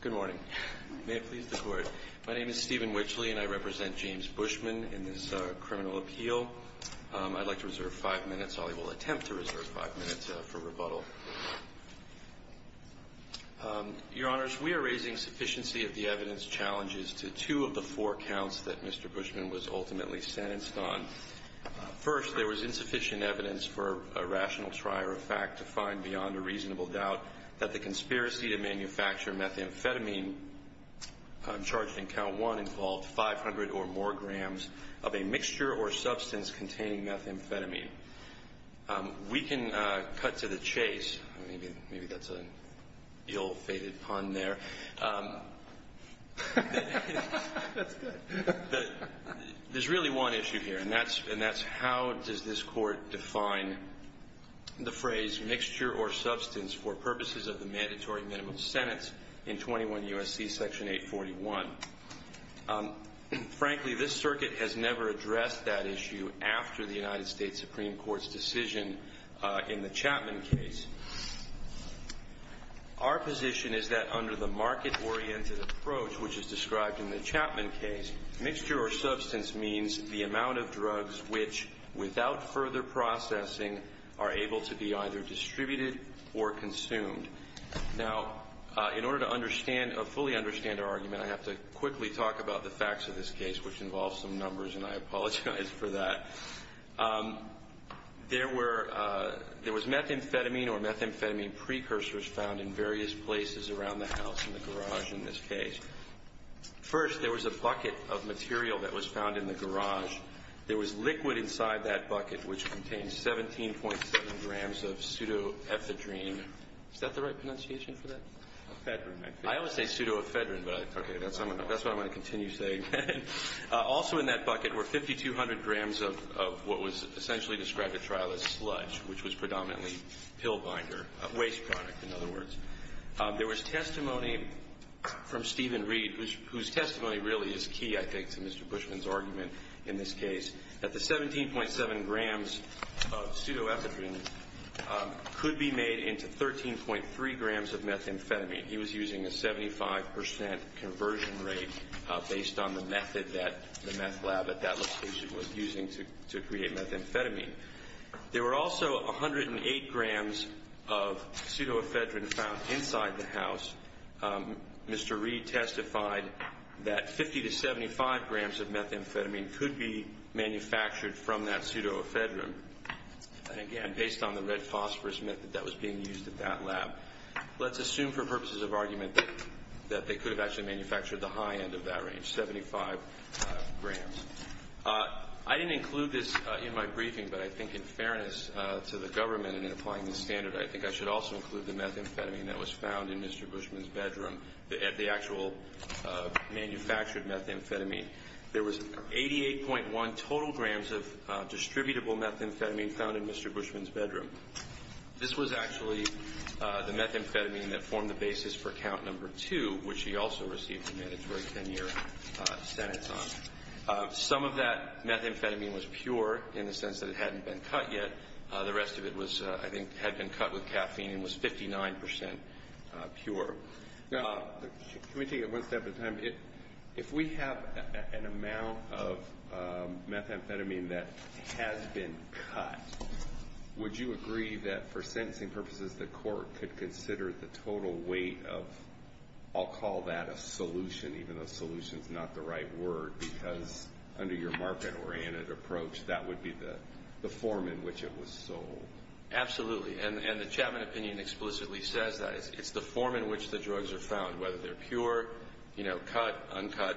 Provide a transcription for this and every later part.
Good morning. May it please the Court. My name is Stephen Witchley, and I represent James Beauchman in this criminal appeal. I'd like to reserve five minutes. I will attempt to reserve five minutes for rebuttal. Your Honors, we are raising sufficiency of the evidence challenges to two of the four counts that Mr. Beauchman was ultimately sentenced on. First, there was insufficient evidence for a rational trier of fact to find beyond a reasonable doubt that the conspiracy to manufacture methamphetamine charged in count one involved 500 or more grams of a mixture or substance containing methamphetamine. We can cut to the chase. Maybe that's an ill-fated pun there. There's really one issue here, and that's how does this Court define the phrase mixture or substance for purposes of the mandatory minimum sentence in 21 U.S.C. section 841. Frankly, this circuit has never addressed that issue after the United States Supreme Court's decision in the Chapman case. Our position is that under the market-oriented approach which is described in the Chapman case, mixture or substance means the amount of drugs which, without further processing, are able to be either distributed or consumed. Now, in order to fully understand our argument, I have to quickly talk about the facts of this case, which involves some numbers, and I apologize for that. There was methamphetamine or methamphetamine precursors found in various places around the house, in the garage in this case. First, there was a bucket of material that was found in the garage. There was liquid inside that bucket, which contained 17.7 grams of pseudoephedrine. Is that the right pronunciation for that? I always say pseudoephedrine, but that's what I'm going to continue saying. Also in that bucket were 5,200 grams of what was essentially described at trial as sludge, which was predominantly pill binder, waste product, in other words. There was testimony from Stephen Reed, whose testimony really is key, I think, to Mr. Bushman's argument in this case, that the 17.7 grams of pseudoephedrine could be made into 13.3 grams of methamphetamine. He was using a 75% conversion rate based on the method that the meth lab at that location was using to create methamphetamine. There were also 108 grams of pseudoephedrine found inside the house. Mr. Reed testified that 50 to 75 grams of methamphetamine could be manufactured from that pseudoephedrine, again, based on the red phosphorus method that was being used at that lab. Let's assume for purposes of argument that they could have actually manufactured the high end of that range, 75 grams. I didn't include this in my briefing, but I think in fairness to the government and in applying the standard, I think I should also include the methamphetamine that was found in Mr. Bushman's bedroom, the actual manufactured methamphetamine. There was 88.1 total grams of distributable methamphetamine found in Mr. Bushman's bedroom. This was actually the methamphetamine that formed the basis for count number two, which he also received a mandatory 10 year sentence on. Some of that methamphetamine was pure in the sense that it hadn't been cut yet. The rest of it was, I think, had been cut with caffeine and was 59% pure. Can we take it one step at a time? If we have an amount of methamphetamine that has been cut, would you agree that for sentencing purposes, the court could consider the total weight of, I'll call that a solution, even though solution is not the right word, because under your market oriented approach, that would be the form in which it was sold. Absolutely. And the Chapman opinion explicitly says that. It's the form in which the drugs are found, whether they're pure, cut, uncut.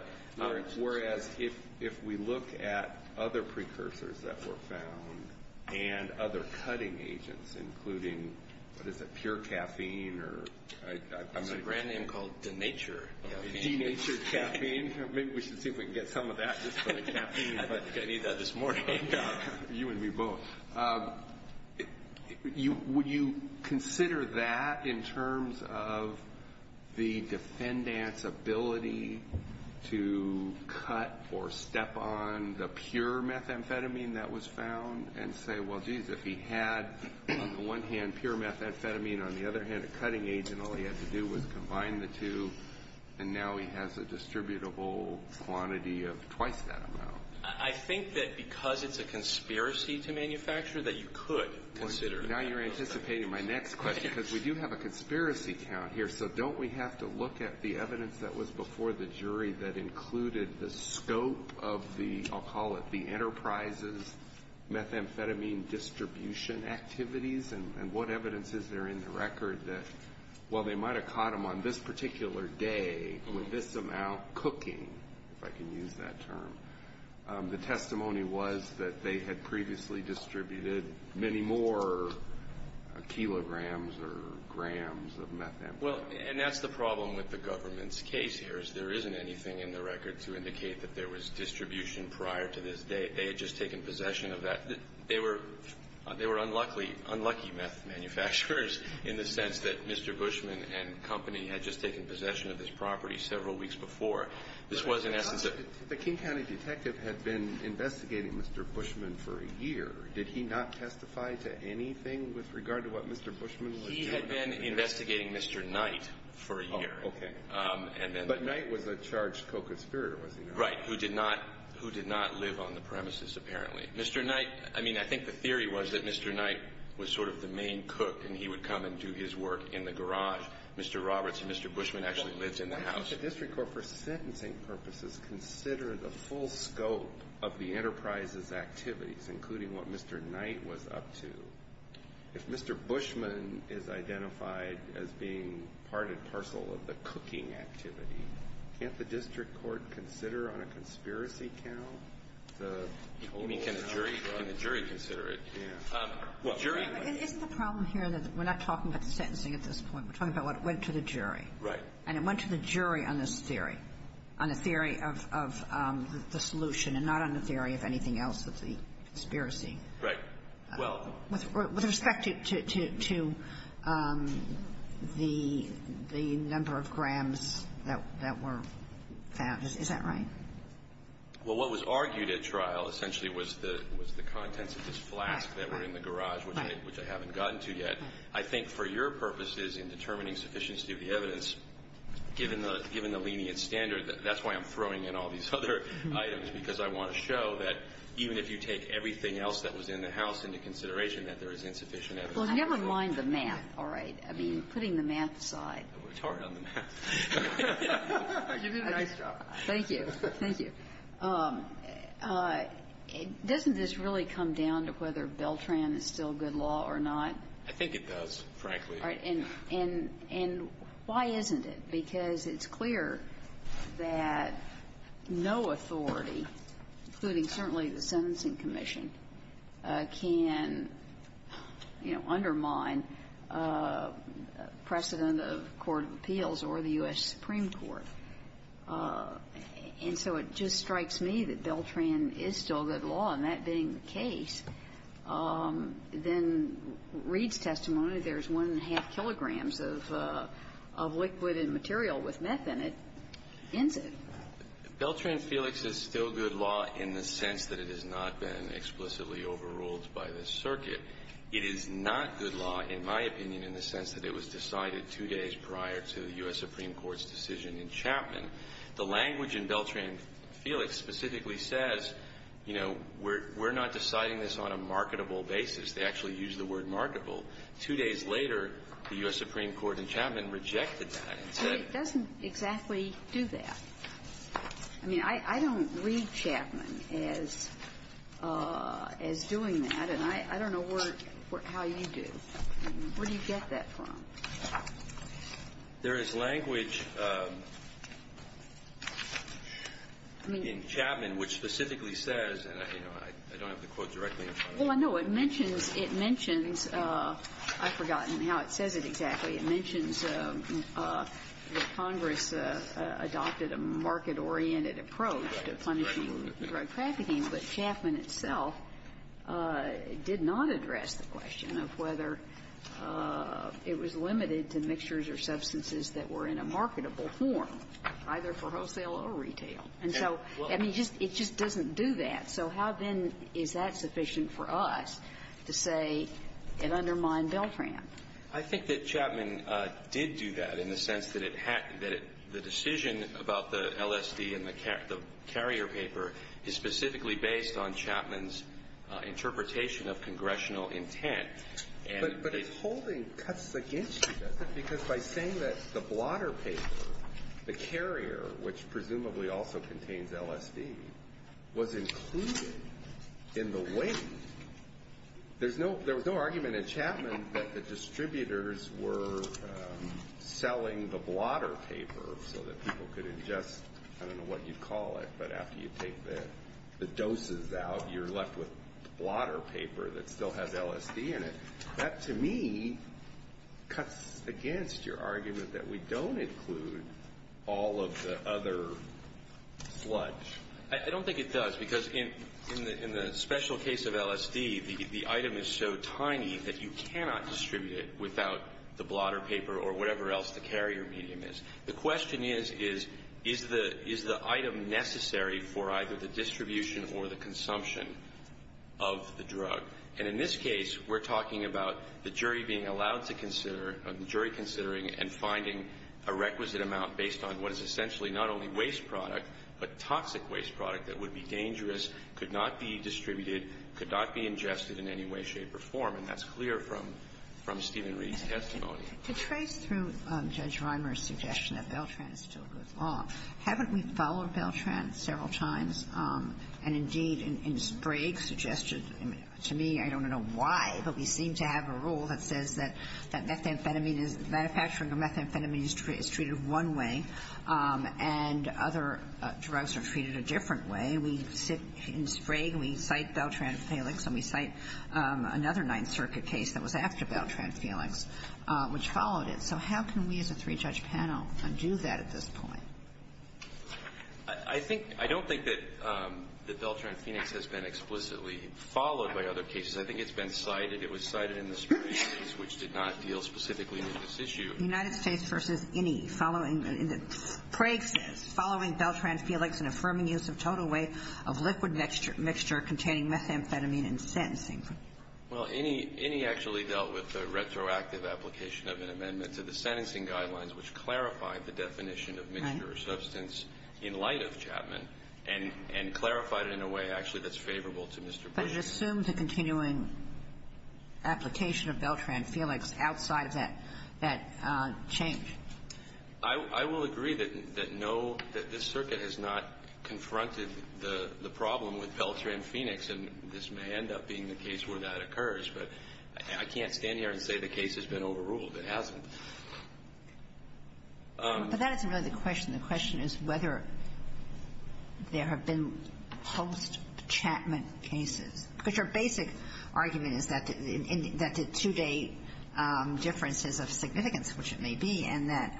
Whereas if we look at other precursors that were found and other cutting agents, including, what is it, pure caffeine? It's a brand name called Denature. Denature caffeine. Maybe we should see if we can get some of that just for the caffeine. I think I need that this morning. You and me both. Would you consider that in terms of the defendant's ability to cut or step on the pure methamphetamine that was found and say, well, geez, if he had, on the one hand, pure methamphetamine, on the other hand, a cutting agent, all he had to do was combine the two, and now he has a distributable quantity of twice that amount. I think that because it's a conspiracy to manufacture, that you could consider that. Now you're anticipating my next question, because we do have a conspiracy count here, so don't we have to look at the evidence that was before the jury that included the scope of the, I'll call it, the enterprise's methamphetamine distribution activities? And what evidence is there in the record that, well, they might have caught him on this particular day with this amount cooking, if I can use that term. The testimony was that they had previously distributed many more kilograms or grams of methamphetamine. Well, and that's the problem with the government's case here, is there isn't anything in the record to indicate that there was distribution prior to this day. They had just taken possession of that. They were unlucky meth manufacturers in the sense that Mr. Bushman and company had just taken possession of this property several weeks before. This was in essence a ---- The King County detective had been investigating Mr. Bushman for a year. Did he not testify to anything with regard to what Mr. Bushman was doing? He had been investigating Mr. Knight for a year. Oh, okay. But Knight was a charged co-conspirator, was he not? Right, who did not live on the premises, apparently. Mr. Knight, I mean, I think the theory was that Mr. Knight was sort of the main cook and he would come and do his work in the garage. Mr. Roberts and Mr. Bushman actually lived in the house. Well, can I ask the district court for sentencing purposes to consider the full scope of the enterprise's activities, including what Mr. Knight was up to? If Mr. Bushman is identified as being part and parcel of the cooking activity, can't the district court consider on a conspiracy count the total? I mean, can the jury consider it? Well, jury ---- Isn't the problem here that we're not talking about the sentencing at this point. We're talking about what went to the jury. Right. And it went to the jury on this theory, on the theory of the solution, and not on the theory of anything else but the conspiracy. Right. Well ---- With respect to the number of grams that were found, is that right? Well, what was argued at trial essentially was the contents of this flask that were in the garage, which I haven't gotten to yet. I think for your purposes in determining sufficiency of the evidence, given the lenient standard, that's why I'm throwing in all these other items, because I want to show that even if you take everything else that was in the house into consideration, that there is insufficient evidence. Well, never mind the math, all right? I mean, putting the math aside. We're tired of the math. You did a nice job. Thank you. Thank you. Doesn't this really come down to whether Beltran is still good law or not? I think it does, frankly. All right. And why isn't it? Because it's clear that no authority, including certainly the Sentencing Commission, can undermine precedent of court of appeals or the U.S. Supreme Court. And so it just strikes me that Beltran is still good law, and that being the case, then Reid's testimony, there's one and a half kilograms of liquid and material with meth in it, ends it. Beltran-Felix is still good law in the sense that it has not been explicitly overruled by the circuit. It is not good law, in my opinion, in the sense that it was decided two days prior to the U.S. Supreme Court's decision in Chapman. The language in Beltran-Felix specifically says, you know, we're not deciding this on a marketable basis. They actually use the word marketable. Two days later, the U.S. Supreme Court in Chapman rejected that and said that. How does it exactly do that? I mean, I don't read Chapman as doing that, and I don't know how you do. Where do you get that from? There is language in Chapman which specifically says, and, you know, I don't have the quote directly in front of me. Well, I know. It mentions, I've forgotten how it says it exactly. It mentions that Congress adopted a market-oriented approach to punishing drug trafficking, but Chapman itself did not address the question of whether it was limited to mixtures or substances that were in a marketable form, either for wholesale or retail. And so, I mean, it just doesn't do that. So how then is that sufficient for us to say it undermined Beltran? I think that Chapman did do that in the sense that the decision about the LSD and the carrier paper is specifically based on Chapman's interpretation of congressional intent. But its holding cuts against you, doesn't it? Because by saying that the blotter paper, the carrier, which presumably also contains LSD, was included in the weight, there was no argument in Chapman that the distributors were selling the blotter paper so that people could ingest, I don't know what you'd call it, but after you take the doses out, you're left with blotter paper that still has LSD in it. That, to me, cuts against your argument that we don't include all of the other sludge. I don't think it does, because in the special case of LSD, the item is so tiny that you cannot distribute it without the blotter paper or whatever else the carrier medium is. The question is, is the item necessary for either the distribution or the consumption of the drug? And in this case, we're talking about the jury being allowed to consider or the jury considering and finding a requisite amount based on what is essentially not only waste product, but toxic waste product that would be dangerous, could not be distributed, could not be ingested in any way, shape, or form. And that's clear from Stephen Reed's testimony. To trace through Judge Reimer's suggestion that Beltran is still good law, haven't we followed Beltran several times? And indeed, in Sprague suggested, to me, I don't know why, but we seem to have a rule that says that methamphetamine, manufacturing of methamphetamine is treated one way and other drugs are treated a different way. We sit in Sprague, we cite Beltran-Phoenix, and we cite another Ninth Circuit case that was after Beltran-Phoenix, which followed it. So how can we as a three-judge panel undo that at this point? I think – I don't think that Beltran-Phoenix has been explicitly followed by other cases. I think it's been cited. It was cited in the Sprague case, which did not deal specifically with this issue. United States v. Innie following – Sprague says, following Beltran-Phoenix, an affirming use of total weight of liquid mixture containing methamphetamine in sentencing. Well, Innie – Innie actually dealt with the retroactive application of an amendment to the sentencing guidelines, which clarified the definition of mixture or substance in light of Chapman and clarified it in a way, actually, that's favorable to Mr. Bush. But it assumes a continuing application of Beltran-Phoenix outside of that – that change. I will agree that no – that this circuit has not confronted the problem with Beltran-Phoenix, and this may end up being the case where that occurs. But I can't stand here and say the case has been overruled. It hasn't. But that isn't really the question. The question is whether there have been post-Chapman cases. Because your basic argument is that the two-day differences of significance, which it may be, and that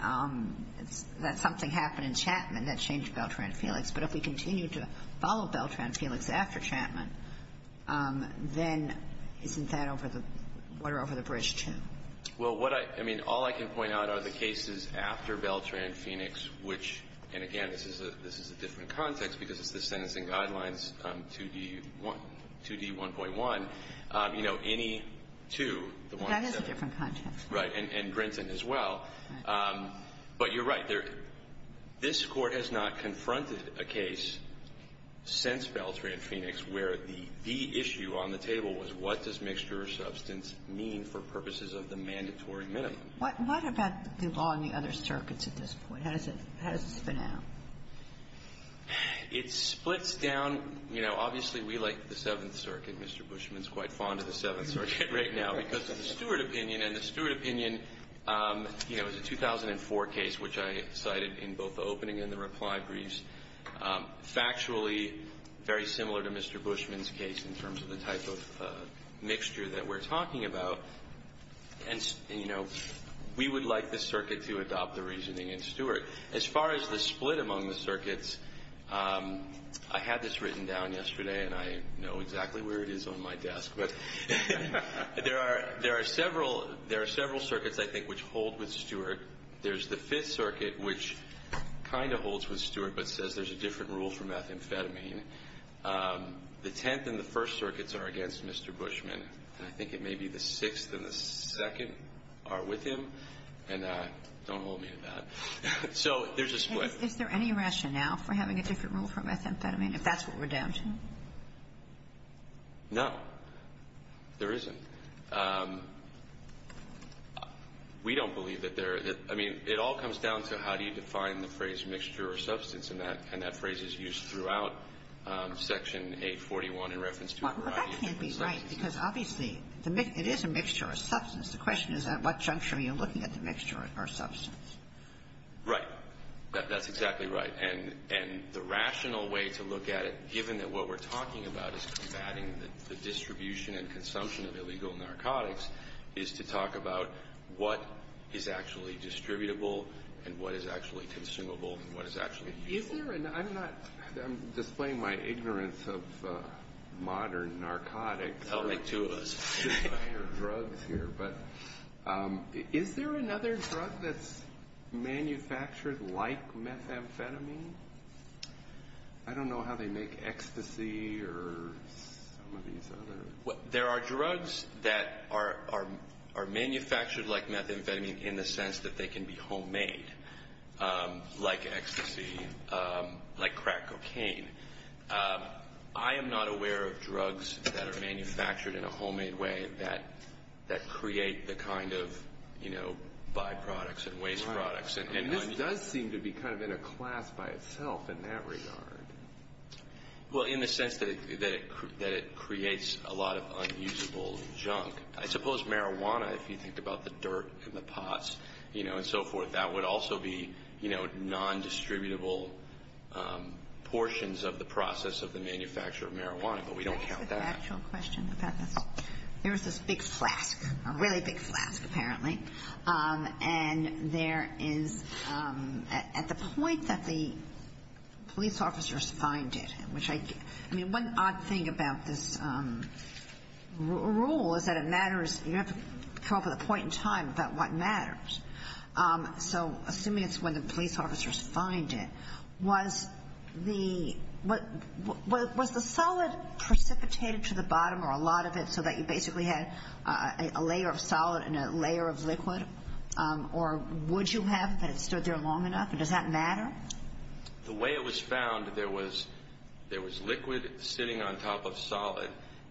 it's – that something happened in Chapman that changed Beltran-Phoenix. But if we continue to follow Beltran-Phoenix after Chapman, then isn't that over the – we're over the bridge, too. Well, what I – I mean, all I can point out are the cases after Beltran-Phoenix, which – and again, this is a – this is a different context because it's the sentencing guidelines, 2D1 – 2D1.1. You know, any two – That is a different context. Right. And Grinton as well. But you're right. There – this Court has not confronted a case since Beltran-Phoenix where the – the What – what about the law in the other circuits at this point? How does it – how does it spin out? It splits down – you know, obviously, we like the Seventh Circuit. Mr. Bushman is quite fond of the Seventh Circuit right now because of the Stewart opinion. And the Stewart opinion, you know, is a 2004 case, which I cited in both the opening and the reply briefs. Factually, very similar to Mr. Bushman's case in terms of the type of mixture that we're talking about. And, you know, we would like the circuit to adopt the reasoning in Stewart. As far as the split among the circuits, I had this written down yesterday, and I know exactly where it is on my desk. But there are – there are several – there are several circuits, I think, which hold with Stewart. There's the Fifth Circuit, which kind of holds with Stewart but says there's a different rule for methamphetamine. The Tenth and the First Circuits are against Mr. Bushman. And I think it may be the Sixth and the Second are with him. And don't hold me to that. So there's a split. Is there any rationale for having a different rule for methamphetamine, if that's what we're down to? No. There isn't. We don't believe that there – I mean, it all comes down to how you define the phrase mixture or substance, and that – and that phrase is used throughout Section 841 in reference to a variety of drugs. Well, that can't be right, because obviously it is a mixture or substance. The question is at what juncture are you looking at the mixture or substance? Right. That's exactly right. And the rational way to look at it, given that what we're talking about is combating the distribution and consumption of illegal and what is actually usable. Is there – I'm not – I'm displaying my ignorance of modern narcotics. That'll make two of us. Or drugs here. But is there another drug that's manufactured like methamphetamine? I don't know how they make ecstasy or some of these others. There are drugs that are manufactured like methamphetamine in the sense that they can be homemade, like ecstasy, like crack cocaine. I am not aware of drugs that are manufactured in a homemade way that create the kind of, you know, byproducts and waste products. And this does seem to be kind of in a class by itself in that regard. Well, in the sense that it creates a lot of unusable junk. I suppose marijuana, if you think about the dirt in the pots and so forth, that would also be non-distributable portions of the process of the manufacture of marijuana. But we don't count that. Can I ask an actual question about this? There is this big flask, a really big flask apparently. And there is – at the point that the police officers find it, which I – I mean, one odd thing about this rule is that it matters – you have to come up with a point in time about what matters. So assuming it's when the police officers find it, was the solid precipitated to the bottom or a lot of it so that you basically had a layer of solid and a layer of liquid? Or would you have that it stood there long enough? And does that matter? The way it was found, there was liquid sitting on top of solid.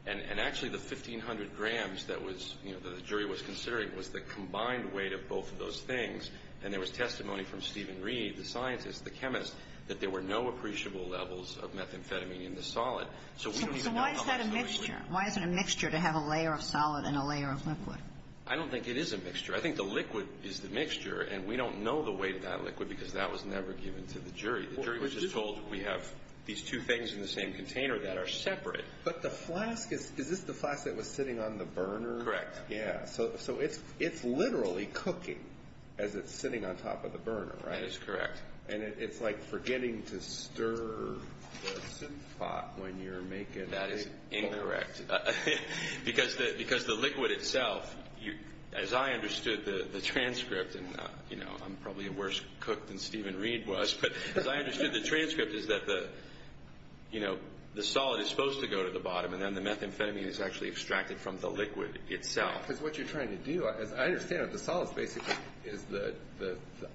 And actually the 1,500 grams that was – that the jury was considering was the combined weight of both of those things. And there was testimony from Stephen Reed, the scientist, the chemist, that there were no appreciable levels of methamphetamine in the solid. So why is that a mixture? Why is it a mixture to have a layer of solid and a layer of liquid? I don't think it is a mixture. I think the liquid is the mixture. And we don't know the weight of that liquid because that was never given to the jury. The jury was just told we have these two things in the same container that are separate. But the flask is – is this the flask that was sitting on the burner? Correct. Yeah. So it's literally cooking as it's sitting on top of the burner, right? That is correct. And it's like forgetting to stir the soup pot when you're making the soup. That is incorrect. Because the liquid itself, as I understood the transcript, and I'm probably a worse cook than Stephen Reed was, but as I understood the transcript is that the solid is supposed to go to the bottom and then the methamphetamine is actually extracted from the liquid itself. Because what you're trying to do, as I understand it, the solids basically is the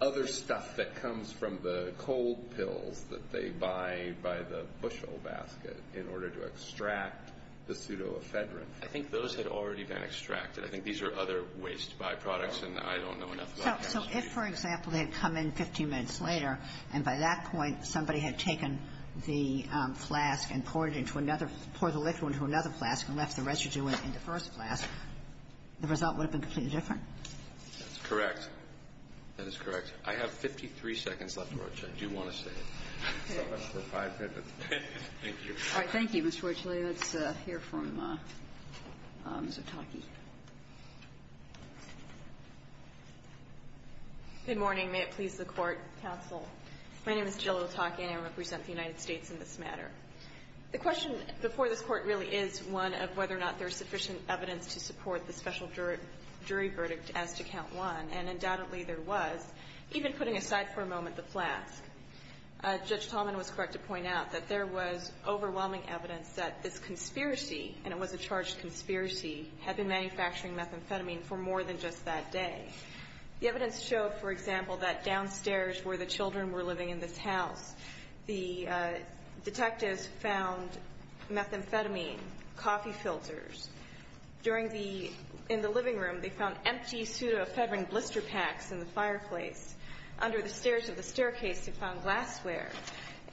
other stuff that comes from the cold pills that they buy by the bushel basket in order to extract the pseudoephedrine. I think those had already been extracted. I think these are other ways to buy products, and I don't know enough about that. So if, for example, they had come in 15 minutes later and by that point somebody had taken the flask and poured it into another – poured the liquid into another flask and left the residue in the first flask, the result would have been completely different? That's correct. That is correct. I have 53 seconds left, Roach. I do want to say it. So I'm up for five minutes. Thank you. All right. Thank you, Mr. Roach. Let's hear from Ms. Otake. Good morning. May it please the Court, counsel. My name is Jill Otake and I represent the United States in this matter. The question before this Court really is one of whether or not there is sufficient evidence to support the special jury verdict as to count one. And undoubtedly there was. Even putting aside for a moment the flask, Judge Tallman was correct to point out that there was overwhelming evidence that this conspiracy, and it was a charged conspiracy, had been manufacturing methamphetamine for more than just that day. The evidence showed, for example, that downstairs where the children were living in this house, the detectives found methamphetamine, coffee filters. In the living room, they found empty pseudoephedrine blister packs in the fireplace. Under the stairs of the staircase, they found glassware.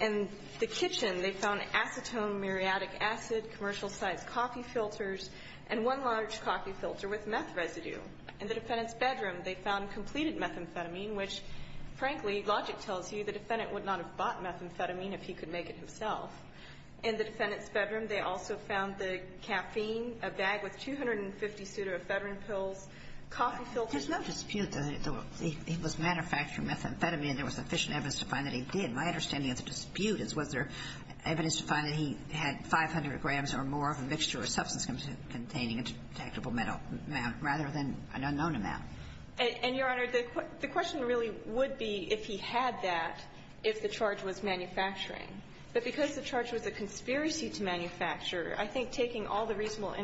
In the kitchen, they found acetone, muriatic acid, commercial-sized coffee filters, and one large coffee filter with meth residue. In the defendant's bedroom, they found completed methamphetamine, which, frankly, logic tells you the defendant would not have bought methamphetamine if he could make it himself. In the defendant's bedroom, they also found the caffeine, a bag with 250 pseudoephedrine pills, coffee filters. There's no dispute that it was manufacturing methamphetamine and there was sufficient evidence to find that he did. My understanding of the dispute is was there evidence to find that he had 500 grams or more of a mixture or substance containing a detectable metal amount rather than an unknown amount. And, Your Honor, the question really would be if he had that if the charge was manufacturing. But because the charge was a conspiracy to manufacture, I think taking all the reasonable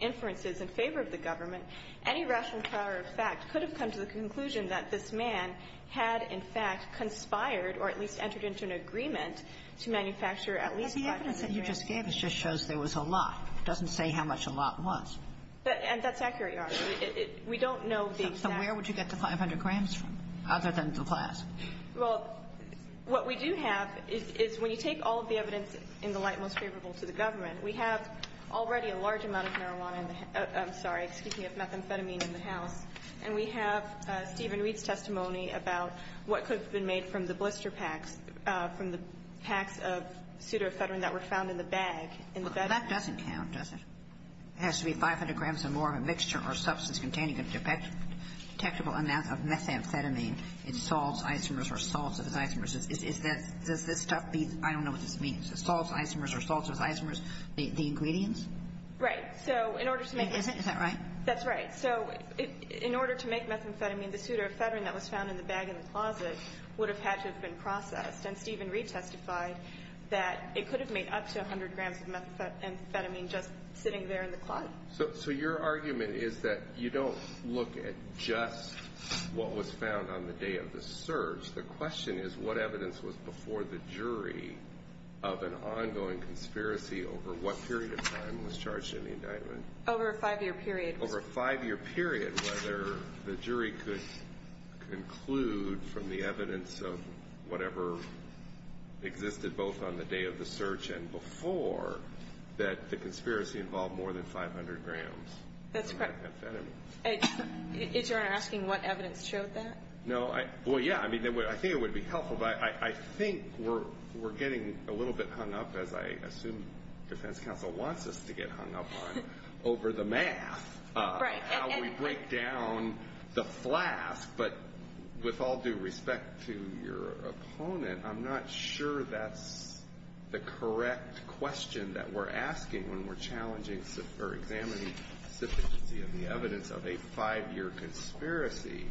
influences in favor of the government, any rational power of fact could have come to the conclusion that this man had, in fact, conspired or at least entered into an agreement to manufacture at least 500 grams. But the evidence that you just gave just shows there was a lot. It doesn't say how much a lot was. And that's accurate, Your Honor. We don't know the exact amount. So where would you get the 500 grams from, other than the glass? Well, what we do have is when you take all of the evidence in the light most favorable to the government, we have already a large amount of marijuana in the house. I'm sorry, excuse me, of methamphetamine in the house. And we have Stephen Reed's testimony about what could have been made from the blister packs, from the packs of pseudoephedrine that were found in the bag. Well, that doesn't count, does it? It has to be 500 grams or more of a mixture or substance containing a detectable amount of methamphetamine in salts, isomers, or salts as isomers. Does this stuff be, I don't know what this means, salts, isomers, or salts as isomers, the ingredients? Right. So in order to make this. Is that right? That's right. So in order to make methamphetamine, the pseudoephedrine that was found in the bag in the closet would have had to have been processed. And Stephen Reed testified that it could have made up to 100 grams of methamphetamine just sitting there in the closet. So your argument is that you don't look at just what was found on the day of the search. The question is what evidence was before the jury of an ongoing conspiracy over what period of time was charged in the indictment? Over a five-year period. Over a five-year period, whether the jury could conclude from the evidence of whatever existed both on the day of the search and before that the conspiracy involved more than 500 grams of methamphetamine. That's correct. Is your Honor asking what evidence showed that? Well, yeah, I think it would be helpful, but I think we're getting a little bit hung up, as I assume defense counsel wants us to get hung up on, over the math, how we break down the flask. But with all due respect to your opponent, I'm not sure that's the correct question that we're asking when we're challenging or examining the evidence of a five-year conspiracy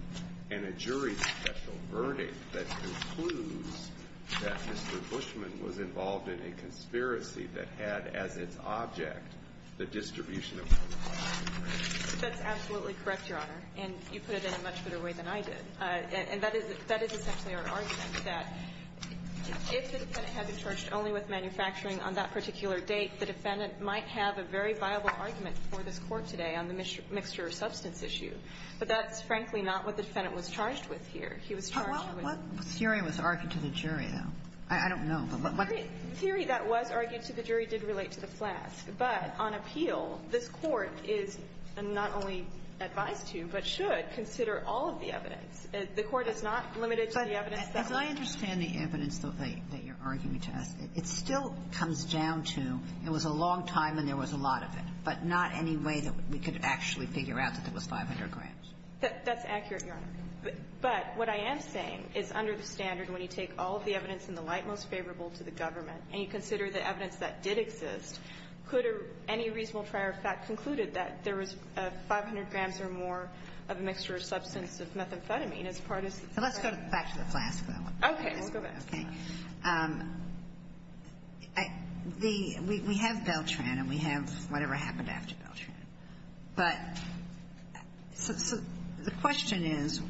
and a jury's special verdict that concludes that Mr. Bushman was involved in a conspiracy that had as its object the distribution of methamphetamine. That's absolutely correct, Your Honor, and you put it in a much better way than I did. And that is essentially our argument, that if the defendant had been charged only with manufacturing on that particular date, the defendant might have a very viable argument for this Court today on the mixture of substance issue. But that's, frankly, not what the defendant was charged with here. He was charged with the ---- Well, what theory was argued to the jury, though? I don't know, but what ---- The theory that was argued to the jury did relate to the flask. But on appeal, this Court is not only advised to but should consider all of the evidence the Court is not limited to the evidence that was ---- But as I understand the evidence that you're arguing to us, it still comes down to it was a long time and there was a lot of it, but not any way that we could actually figure out that there was 500 grams. That's accurate, Your Honor. But what I am saying is under the standard, when you take all of the evidence in the light most favorable to the government and you consider the evidence that did exist, could any reasonable trier of fact concluded that there was 500 grams or more of a mixture of substance of methamphetamine as part of the ---- Let's go back to the flask, though. Okay. Let's go back. Okay. The ---- we have Beltran and we have whatever happened after Beltran. But the question is,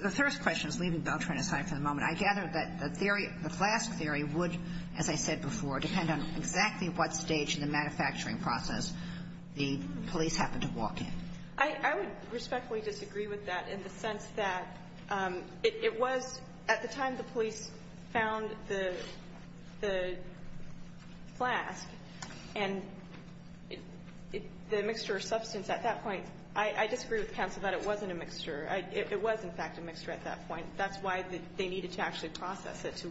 the first question is leaving Beltran aside for the moment. I gather that the theory, the flask theory would, as I said before, depend on exactly what stage in the manufacturing process the police happened to walk in. I would respectfully disagree with that in the sense that it was at the time the police found the flask and the mixture of substance at that point, I disagree with counsel that it wasn't a mixture. It was, in fact, a mixture at that point. That's why they needed to actually process it to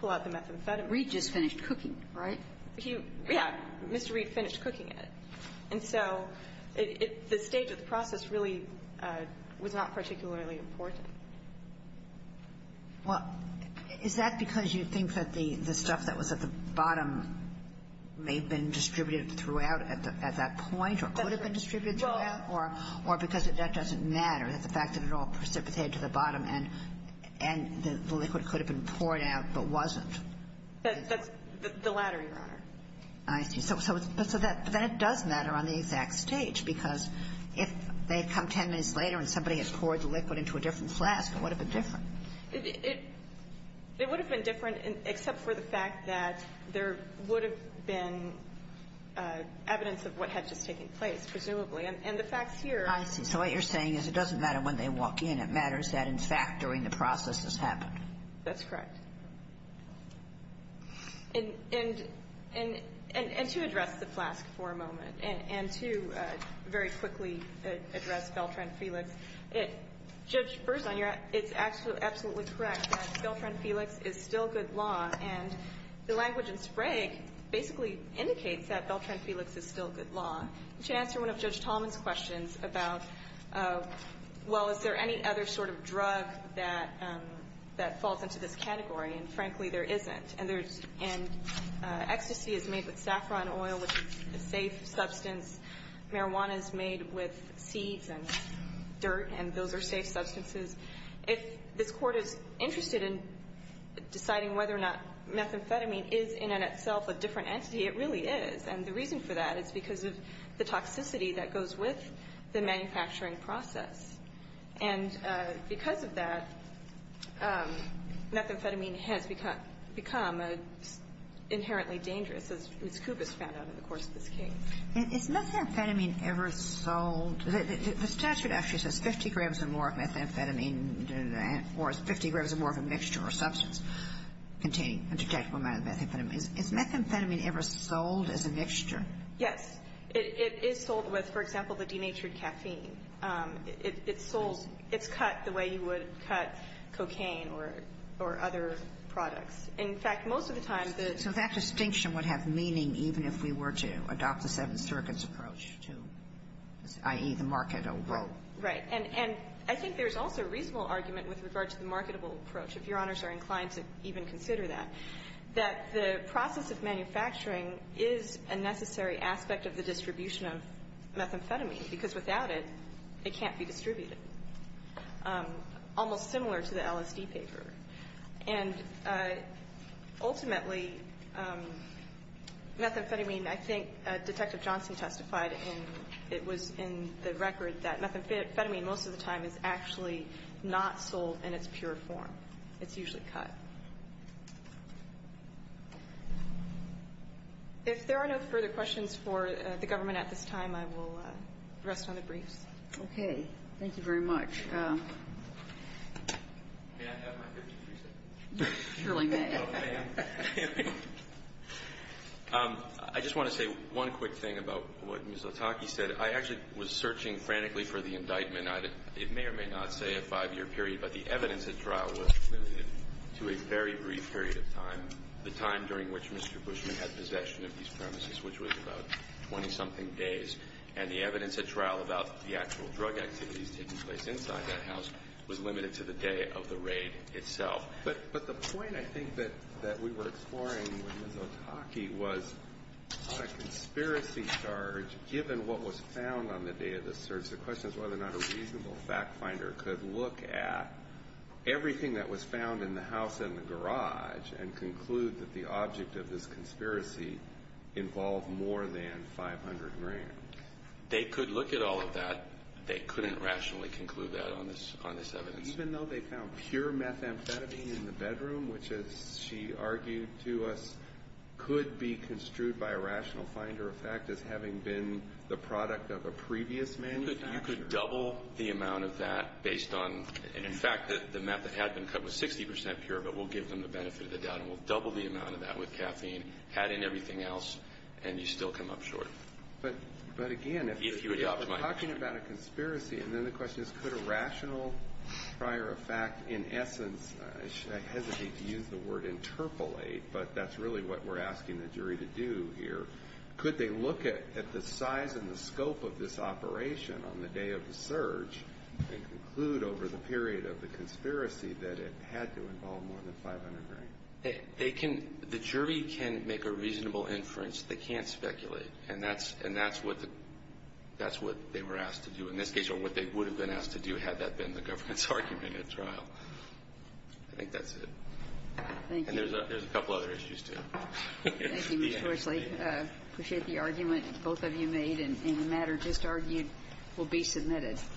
pull out the methamphetamine. Reed just finished cooking, right? He, yeah, Mr. Reed finished cooking it. And so the stage of the process really was not particularly important. Well, is that because you think that the stuff that was at the bottom may have been distributed throughout at that point or could have been distributed throughout or because that doesn't matter, that the fact that it all precipitated to the bottom and the liquid could have been poured out but wasn't? That's the latter, Your Honor. I see. So then it does matter on the exact stage because if they had come ten minutes later and somebody had poured the liquid into a different flask, it would have been different. It would have been different except for the fact that there would have been evidence of what had just taken place, presumably. And the facts here. I see. So what you're saying is it doesn't matter when they walk in. It matters that, in fact, during the process this happened. That's correct. And to address the flask for a moment and to very quickly address Beltran-Felix, Judge, first of all, it's absolutely correct that Beltran-Felix is still good law. And the language in Sprague basically indicates that Beltran-Felix is still good law. You should answer one of Judge Tallman's questions about, well, is there any other sort of drug that falls into this category? And, frankly, there isn't. And ecstasy is made with saffron oil, which is a safe substance. Marijuana is made with seeds and dirt, and those are safe substances. If this Court is interested in deciding whether or not methamphetamine is in and itself a different entity, it really is. And the reason for that is because of the toxicity that goes with the manufacturing process. And because of that, methamphetamine has become an inherently dangerous, as Ms. Kubis found out in the course of this case. Is methamphetamine ever sold? The statute actually says 50 grams or more of methamphetamine or 50 grams or more of a mixture or substance containing a detectable amount of methamphetamine. Is methamphetamine ever sold as a mixture? Yes. It is sold with, for example, the denatured caffeine. It's sold, it's cut the way you would cut cocaine or other products. In fact, most of the time the So that distinction would have meaning even if we were to adopt the Seventh Circuit's approach to, i.e., the market overall. Right. And I think there's also a reasonable argument with regard to the marketable approach, if Your Honors are inclined to even consider that, that the process of manufacturing is a necessary aspect of the distribution of methamphetamine, because without it, it can't be distributed. Almost similar to the LSD paper. And ultimately, methamphetamine, I think Detective Johnson testified, and it was in the record that methamphetamine most of the time is actually not sold in its pure form. It's usually cut. If there are no further questions for the government at this time, I will rest on the briefs. Okay. Thank you very much. May I have my 53 seconds? You surely may. I just want to say one quick thing about what Ms. Lataki said. I actually was searching frantically for the indictment. It may or may not say a five-year period, but the evidence at trial was limited to a very brief period of time, the time during which Mr. Bushman had possession of these premises, which was about 20-something days. And the evidence at trial about the actual drug activities taking place inside that house was limited to the day of the raid itself. But the point I think that we were exploring with Ms. Lataki was on a conspiracy charge, given what was found on the day of the search, the question is whether or not a reasonable fact finder could look at everything that was found in the house and the garage and conclude that the object of this conspiracy involved more than 500 grams. They could look at all of that. They couldn't rationally conclude that on this evidence. Even though they found pure methamphetamine in the bedroom, which, as she argued to us, could be construed by a rational finder of fact as having been the product of a You could double the amount of that based on, in fact, the meth that had been cut was 60% pure, but we'll give them the benefit of the doubt. And we'll double the amount of that with caffeine, add in everything else, and you still come up short. But again, if you're talking about a conspiracy, and then the question is, could a rational prior of fact, in essence, I hesitate to use the word interpolate, but that's really what we're asking the jury to do here, could they look at the size and the scope of this operation on the day of the search and conclude over the period of the conspiracy that it had to involve more than 500 grams? The jury can make a reasonable inference. They can't speculate. And that's what they were asked to do, in this case, or what they would have been asked to do had that been the government's argument at trial. Thank you. And there's a couple other issues, too. Thank you, Mr. Horsley. I appreciate the argument both of you made, and the matter just argued will be submitted.